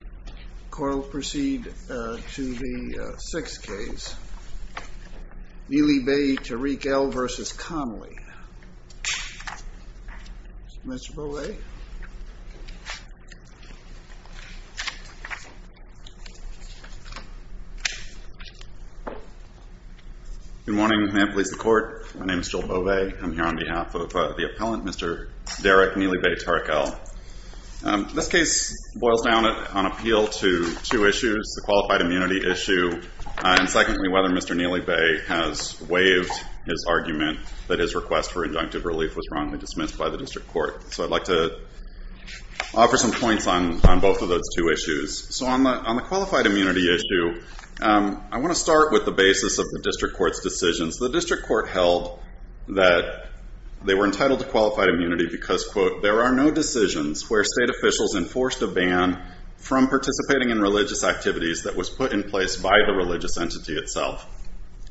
The court will proceed to the sixth case, Neely-Beytarik-El v. Conley. Mr. Beauvais. Good morning. May it please the Court. My name is Joel Beauvais. I'm here on behalf of the appellant, Mr. Derrick Neely-Beytarik-El. This case boils down on appeal to two issues, the qualified immunity issue, and secondly, whether Mr. Neely-Bey has waived his argument that his request for injunctive relief was wrongly dismissed by the district court. So I'd like to offer some points on both of those two issues. So on the qualified immunity issue, I want to start with the basis of the district court's decisions. The district court held that they were entitled to qualified immunity because, quote, there are no decisions where state officials enforced a ban from participating in religious activities that was put in place by the religious entity itself.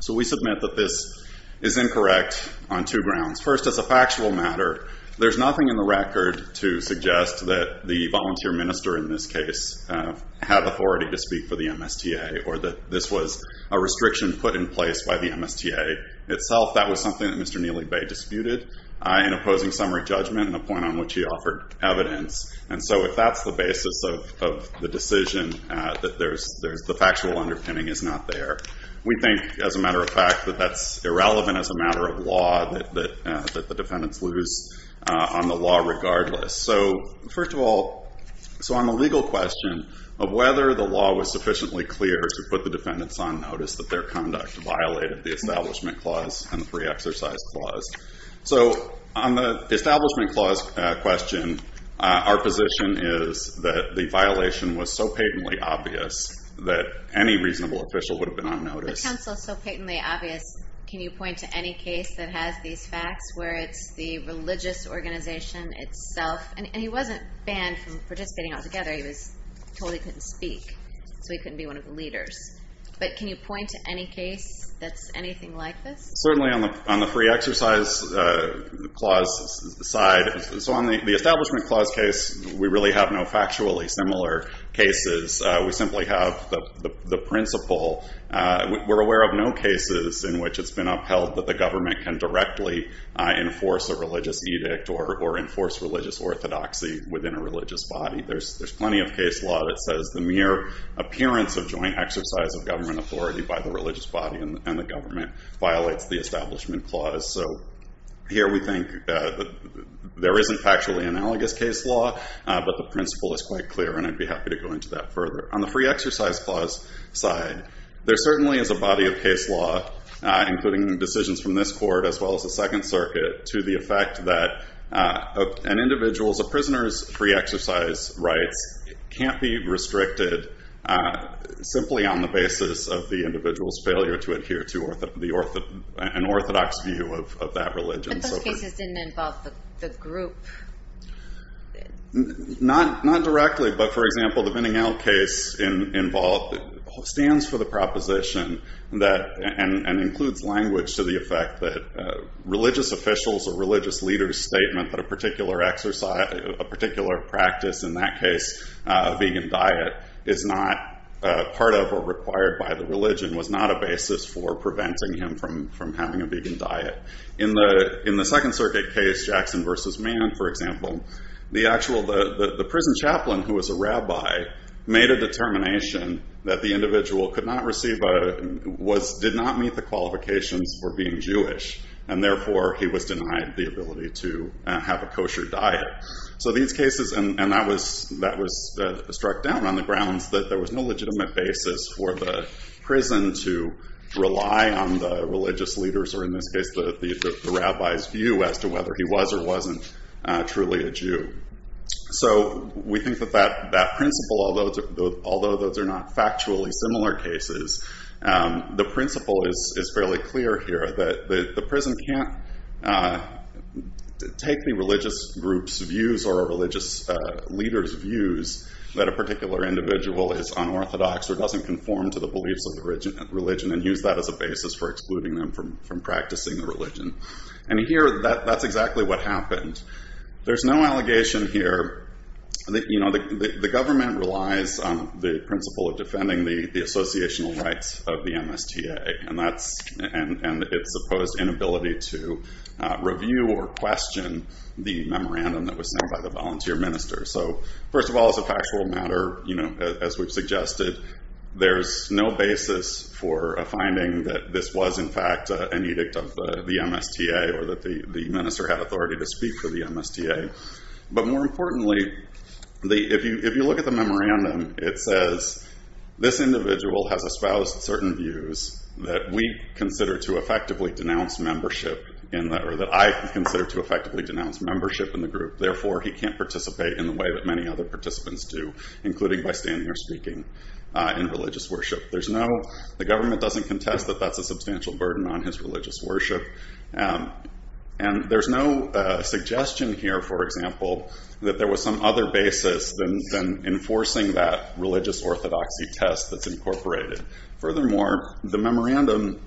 So we submit that this is incorrect on two grounds. First, as a factual matter, there's nothing in the record to suggest that the volunteer minister in this case had authority to speak for the MSTA or that this was a restriction put in place by the MSTA itself. That was something that Mr. Neely-Bey disputed in opposing summary judgment and a point on which he offered evidence. And so if that's the basis of the decision, that there's the factual underpinning is not there. We think, as a matter of fact, that that's irrelevant as a matter of law, that the defendants lose on the law regardless. So first of all, so on the legal question of whether the law was sufficiently clear to put the defendants on notice that their conduct violated the Establishment Clause and the Free Exercise Clause. So on the Establishment Clause question, our position is that the violation was so patently obvious that any reasonable official would have been on notice. But counsel, so patently obvious, can you point to any case that has these facts where it's the religious organization itself? And he wasn't banned from participating altogether. He totally couldn't speak, so he couldn't be one of the leaders. But can you point to any case that's anything like this? Certainly on the Free Exercise Clause side. So on the Establishment Clause case, we really have no factually similar cases. We simply have the principle. We're aware of no cases in which it's been upheld that the government can directly enforce a religious edict or enforce religious orthodoxy within a religious body. There's plenty of case law that says the mere appearance of joint exercise of government authority by the religious body and the government violates the Establishment Clause. So here we think there isn't factually analogous case law, but the principle is quite clear, and I'd be happy to go into that further. On the Free Exercise Clause side, there certainly is a body of case law, including decisions from this court as well as the Second Circuit, to the effect that an individual's, a prisoner's free exercise rights can't be restricted simply on the basis of the individual's failure to adhere to an orthodox view of that religion. But those cases didn't involve the group. Not directly, but for example, the Binningell case involved, stands for the proposition that, and includes language to the effect that, religious officials or religious leaders statement that a particular exercise, a particular practice, in that case a vegan diet, is not part of or required by the religion, was not a basis for preventing him from having a vegan diet. In the Second Circuit case, Jackson versus Mann, for example, the actual, the prison chaplain, who was a rabbi, made a determination that the individual could not receive a, did not meet the qualifications for being Jewish, and therefore he was denied the ability to have a kosher diet. So these cases, and that was struck down on the grounds that there was no legitimate basis for the prison to rely on the religious leaders, or in this case the rabbi's view as to whether he was or wasn't truly a Jew. So we think that that principle, although those are not factually similar cases, the principle is fairly clear here, that the prison can't take the religious group's views or a religious leader's views that a particular individual is unorthodox or doesn't conform to the beliefs of the religion, and use that as a basis for excluding them from practicing the religion. And here, that's exactly what happened. There's no allegation here, you know, the government relies on the principle of defending the associational rights of the MSTA, and that's, and its supposed inability to review or question the memorandum that was sent by the volunteer minister. So, first of all, as a factual matter, you know, as we've suggested, there's no basis for a finding that this was in fact an edict of the MSTA, or that the minister had authority to speak for the MSTA. But more importantly, if you look at the memorandum, it says, this individual has espoused certain views that we consider to effectively denounce membership, or that I consider to effectively denounce membership in the group, therefore he can't participate in the way that many other participants do, including by standing or speaking in religious worship. There's no, the government doesn't contest that that's a substantial burden on his religious worship, and there's no suggestion here, for example, that there was some other basis than enforcing that religious orthodoxy test that's incorporated. Furthermore, the memorandum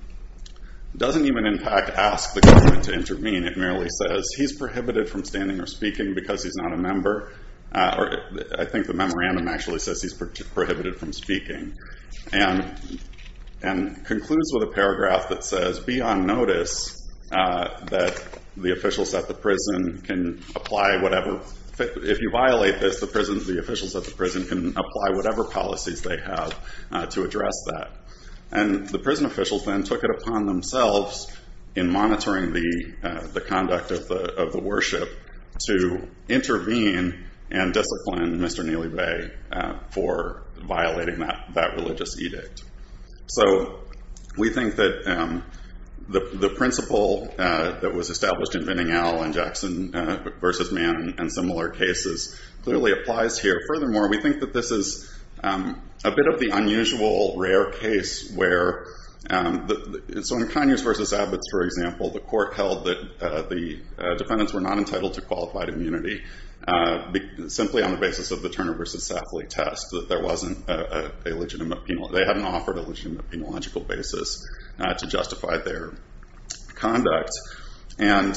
doesn't even in fact ask the government to intervene, it merely says he's prohibited from standing or speaking because he's not a member, or I think the memorandum actually says he's prohibited from speaking, and concludes with a paragraph that says, be on notice that the officials at the prison can apply whatever, if you violate this, the officials at the prison can apply whatever policies they have to address that. And the prison officials then took it upon themselves, in monitoring the conduct of the worship, to intervene and discipline Mr. Neely Bay for violating that religious edict. So, we think that the principle that was established in Vendingale and Jackson v. Mann and similar cases clearly applies here. Furthermore, we think that this is a bit of the unusual, rare case where, so in Conyers v. Abbots, for example, the court held that the defendants were not entitled to qualified immunity, simply on the basis of the Turner v. Safley test, that there wasn't a legitimate penal, they hadn't offered a legitimate penological basis to justify their conduct, and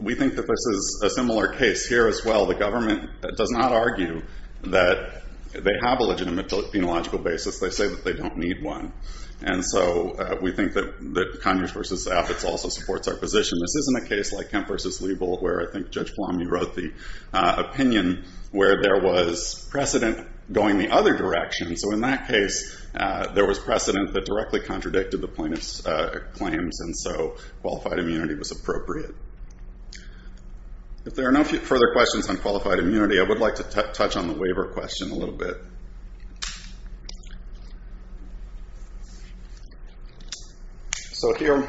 we think that this is a similar case here as well. The government does not argue that they have a legitimate penological basis, they say that they don't need one. And so, we think that Conyers v. Abbots also supports our position. This isn't a case like Kemp v. Liebel, where I think Judge Palami wrote the opinion where there was precedent going the other direction. So in that case, there was precedent that directly contradicted the plaintiff's claims, and so qualified immunity was appropriate. If there are no further questions on qualified immunity, I would like to touch on the waiver question a little bit. So here,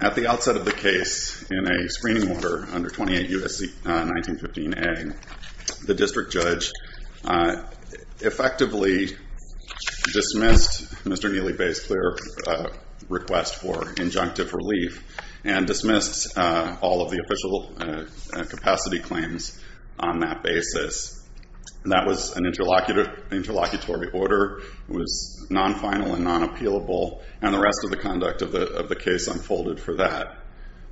at the outset of the case, in a screening order under 28 U.S.C. 1915a, the district judge effectively dismissed Mr. Neely Bay's clear request for injunctive relief and dismissed all of the official capacity claims on that basis. That was an interlocutory order. It was non-final and non-appealable, and the rest of the conduct of the case unfolded for that.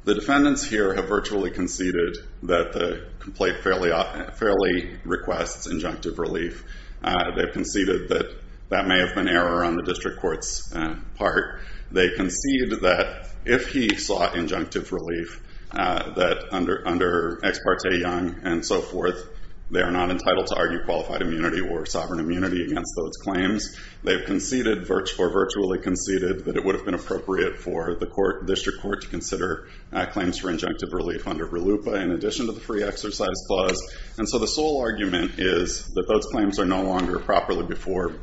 The defendants here have virtually conceded that the complaint fairly requests injunctive relief. They've conceded that that may have been error on the district court's part. They concede that if he sought injunctive relief, that under Ex Parte Young and so forth, they are not entitled to argue qualified immunity or sovereign immunity against those claims. They've conceded, or virtually conceded, that it would have been appropriate for the district court to consider claims for injunctive relief under RLUIPA in addition to the free exercise clause. And so the sole argument is that those claims are no longer properly before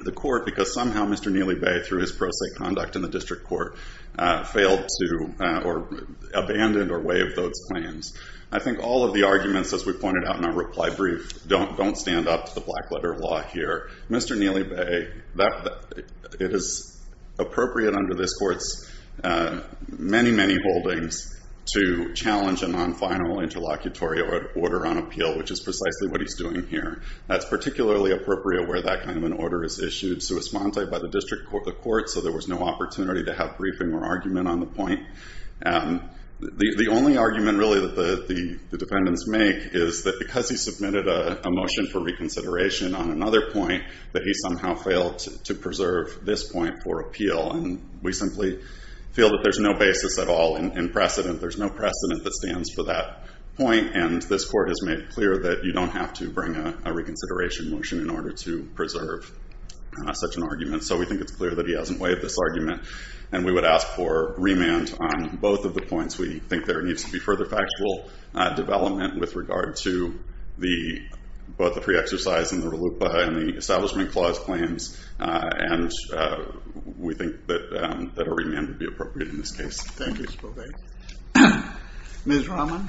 the court because somehow Mr. Neely Bay, through his pro se conduct in the district court, failed to abandon or waive those claims. I think all of the arguments, as we pointed out in our reply brief, don't stand up to the black letter of law here. Mr. Neely Bay, it is appropriate under this court's many, many holdings to challenge a non-final interlocutory order on appeal, which is precisely what he's doing here. That's particularly appropriate where that kind of an order is issued sui sponte by the district court, so there was no opportunity to have briefing or argument on the point. The only argument, really, that the defendants make is that because he submitted a motion for reconsideration on another point, that he somehow failed to preserve this point for appeal. And we simply feel that there's no basis at all in precedent. There's no precedent that stands for that point, and this court has made clear that you don't have to bring a reconsideration motion in order to preserve such an argument. So we think it's clear that he hasn't waived this argument, and we would ask for remand on both of the points. We think there needs to be further factual development with regard to both the pre-exercise and the RLUIPA and the Establishment Clause claims, and we think that a remand would be appropriate in this case. Thank you, Mr. Beaubet. Ms. Rahman?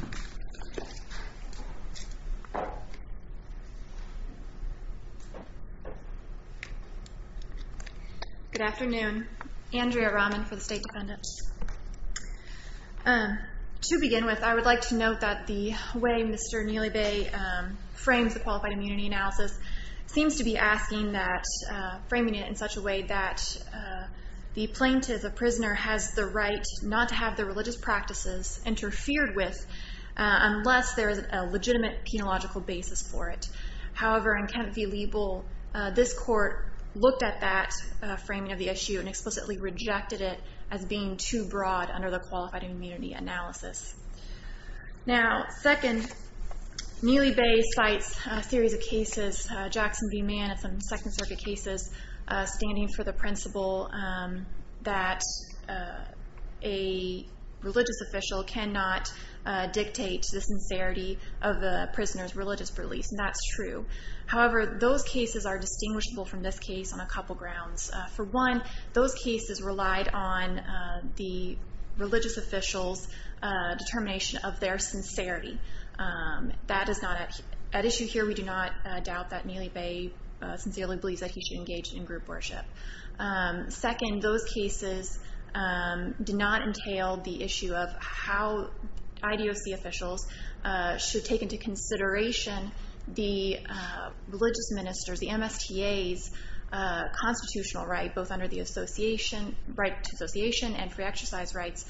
Good afternoon. Andrea Rahman for the State Defendants. To begin with, I would like to note that the way Mr. Neely Bay frames the Qualified Immunity Analysis seems to be asking that, framing it in such a way that the plaintiff, the prisoner, has the right not to have their religious practices interfered with unless there is a legitimate penological basis for it. However, in Kent v. Liebel, this court looked at that framing of the issue and explicitly rejected it as being too broad under the Qualified Immunity Analysis. Now, second, Neely Bay cites a series of cases, Jackson v. Mann and some Second Circuit cases, standing for the principle that a religious official cannot dictate the sincerity of the prisoner's religious beliefs, and that's true. However, those cases are distinguishable from this case on a couple grounds. For one, those cases relied on the religious official's determination of their sincerity. That is not at issue here. We do not doubt that Neely Bay sincerely believes that he should engage in group worship. Second, those cases did not entail the issue of how IDOC officials should take into consideration the religious minister's, the MSTA's, constitutional right, both under the right to association and free exercise rights,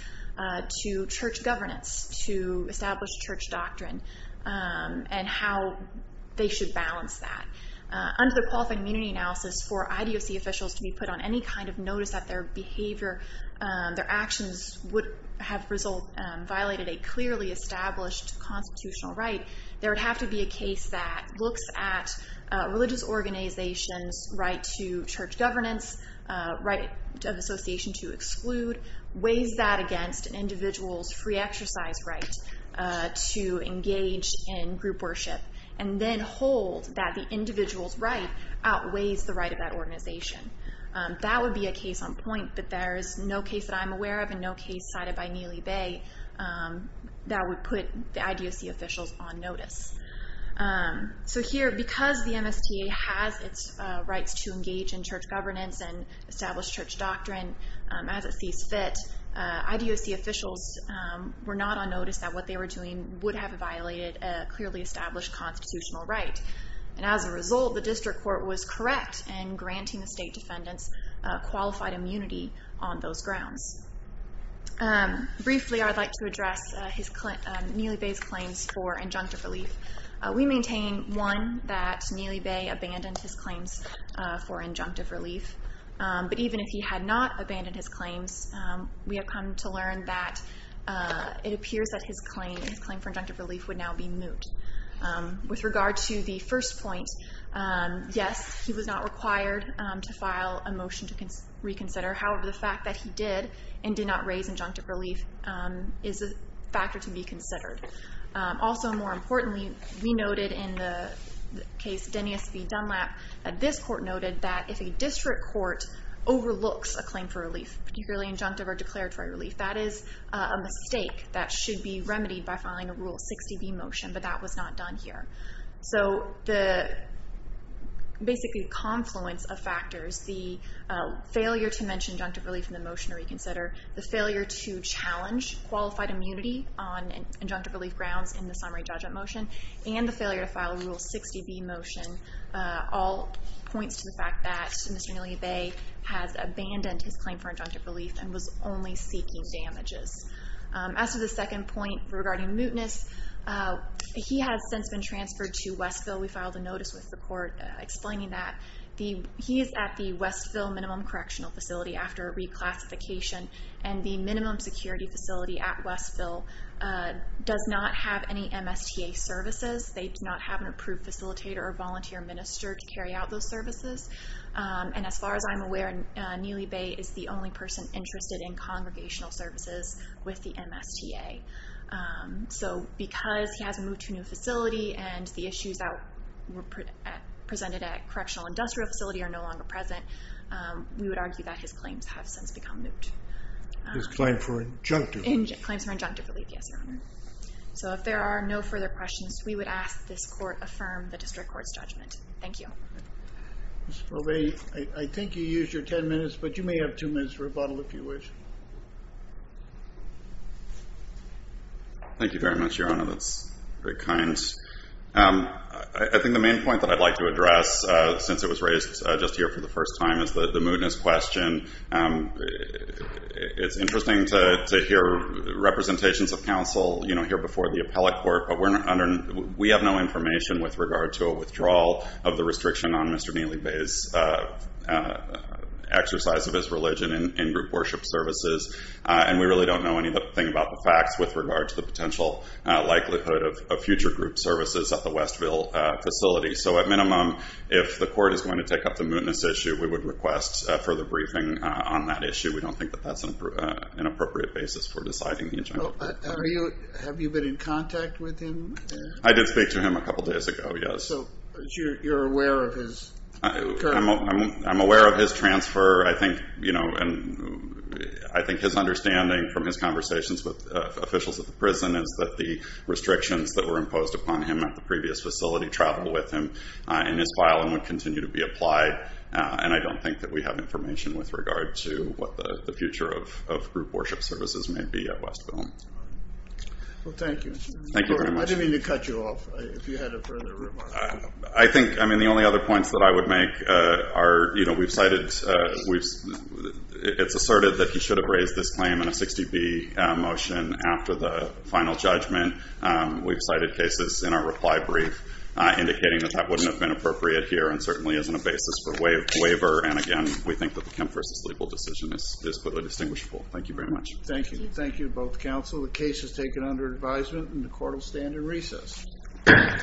to church governance, to establish church doctrine, and how they should balance that. Under the Qualified Immunity Analysis, for IDOC officials to be put on any kind of notice that their behavior, their actions, would have violated a clearly established constitutional right, there would have to be a case that looks at a religious organization's right to church governance, right of association to exclude, weighs that against an individual's free exercise right to engage in group worship, and then hold that the individual's right outweighs the right of that organization. That would be a case on point, but there is no case that I'm aware of, and no case cited by Neely Bay, that would put the IDOC officials on notice. So here, because the MSTA has its rights to engage in church governance and establish church doctrine as it sees fit, IDOC officials were not on notice that what they were doing would have violated a clearly established constitutional right. And as a result, the district court was correct in granting the state defendants qualified immunity on those grounds. Briefly, I'd like to address Neely Bay's claims for injunctive relief. We maintain, one, that Neely Bay abandoned his claims for injunctive relief, but even if he had not abandoned his claims, we have come to learn that it appears that his claim for injunctive relief would now be moot. With regard to the first point, yes, he was not required to file a motion to reconsider. However, the fact that he did and did not raise injunctive relief is a factor to be considered. Also, more importantly, we noted in the case of Denny S. v. Dunlap, that this court noted that if a district court overlooks a claim for relief, particularly injunctive or declaratory relief, that is a mistake that should be remedied by filing a Rule 60b motion, but that was not done here. So the basically confluence of factors, the failure to mention injunctive relief in the motion to reconsider, the failure to challenge qualified immunity on injunctive relief grounds in the summary judgment motion, and the failure to file a Rule 60b motion all points to the fact that Mr. Neely Bay has abandoned his claim for injunctive relief and was only seeking damages. As for the second point regarding mootness, he has since been transferred to Westville. We filed a notice with the court explaining that. He is at the Westville Minimum Correctional Facility after a reclassification, and the minimum security facility at Westville does not have any MSTA services. They do not have an approved facilitator or volunteer minister to carry out those services. And as far as I'm aware, Neely Bay is the only person interested in congregational services with the MSTA. So because he has moved to a new facility and the issues that were presented at Correctional Industrial Facility are no longer present, we would argue that his claims have since become moot. His claim for injunctive relief? Claims for injunctive relief, yes, Your Honor. So if there are no further questions, we would ask this court affirm the district court's judgment. Thank you. Mr. Corbett, I think you used your ten minutes, but you may have two minutes for rebuttal if you wish. Thank you very much, Your Honor. That's very kind. I think the main point that I'd like to address since it was raised just here for the first time is the mootness question. It's interesting to hear representations of counsel, you know, here before the appellate court, but we have no information with regard to a withdrawal of the restriction on Mr. Neely Bay's exercise of his religion in group worship services, and we really don't know anything about the facts with regard to the potential likelihood of future group services at the Westville facility. So at minimum, if the court is going to take up the mootness issue, we would request further briefing on that issue. We don't think that that's an appropriate basis for deciding the injunctive relief. Have you been in contact with him? I did speak to him a couple days ago, yes. So you're aware of his current... I'm aware of his transfer. I think his understanding from his conversations with officials at the prison is that the restrictions that were imposed upon him at the previous facility traveled with him in his file and would continue to be applied, and I don't think that we have information with regard to what the future of group worship services may be at Westville. Well, thank you. Thank you very much. I didn't mean to cut you off if you had a further remark. I think, I mean, the only other points that I would make are, you know, we've cited, it's asserted that he should have raised this claim in a 60B motion after the final judgment. We've cited cases in our reply brief indicating that that wouldn't have been appropriate here and certainly isn't a basis for waiver. And again, we think that the Kemp v. Legal decision is clearly distinguishable. Thank you very much. Thank you. Thank you to both counsel. The case is taken under advisement and the court will stand in recess. Thank you. Thank you.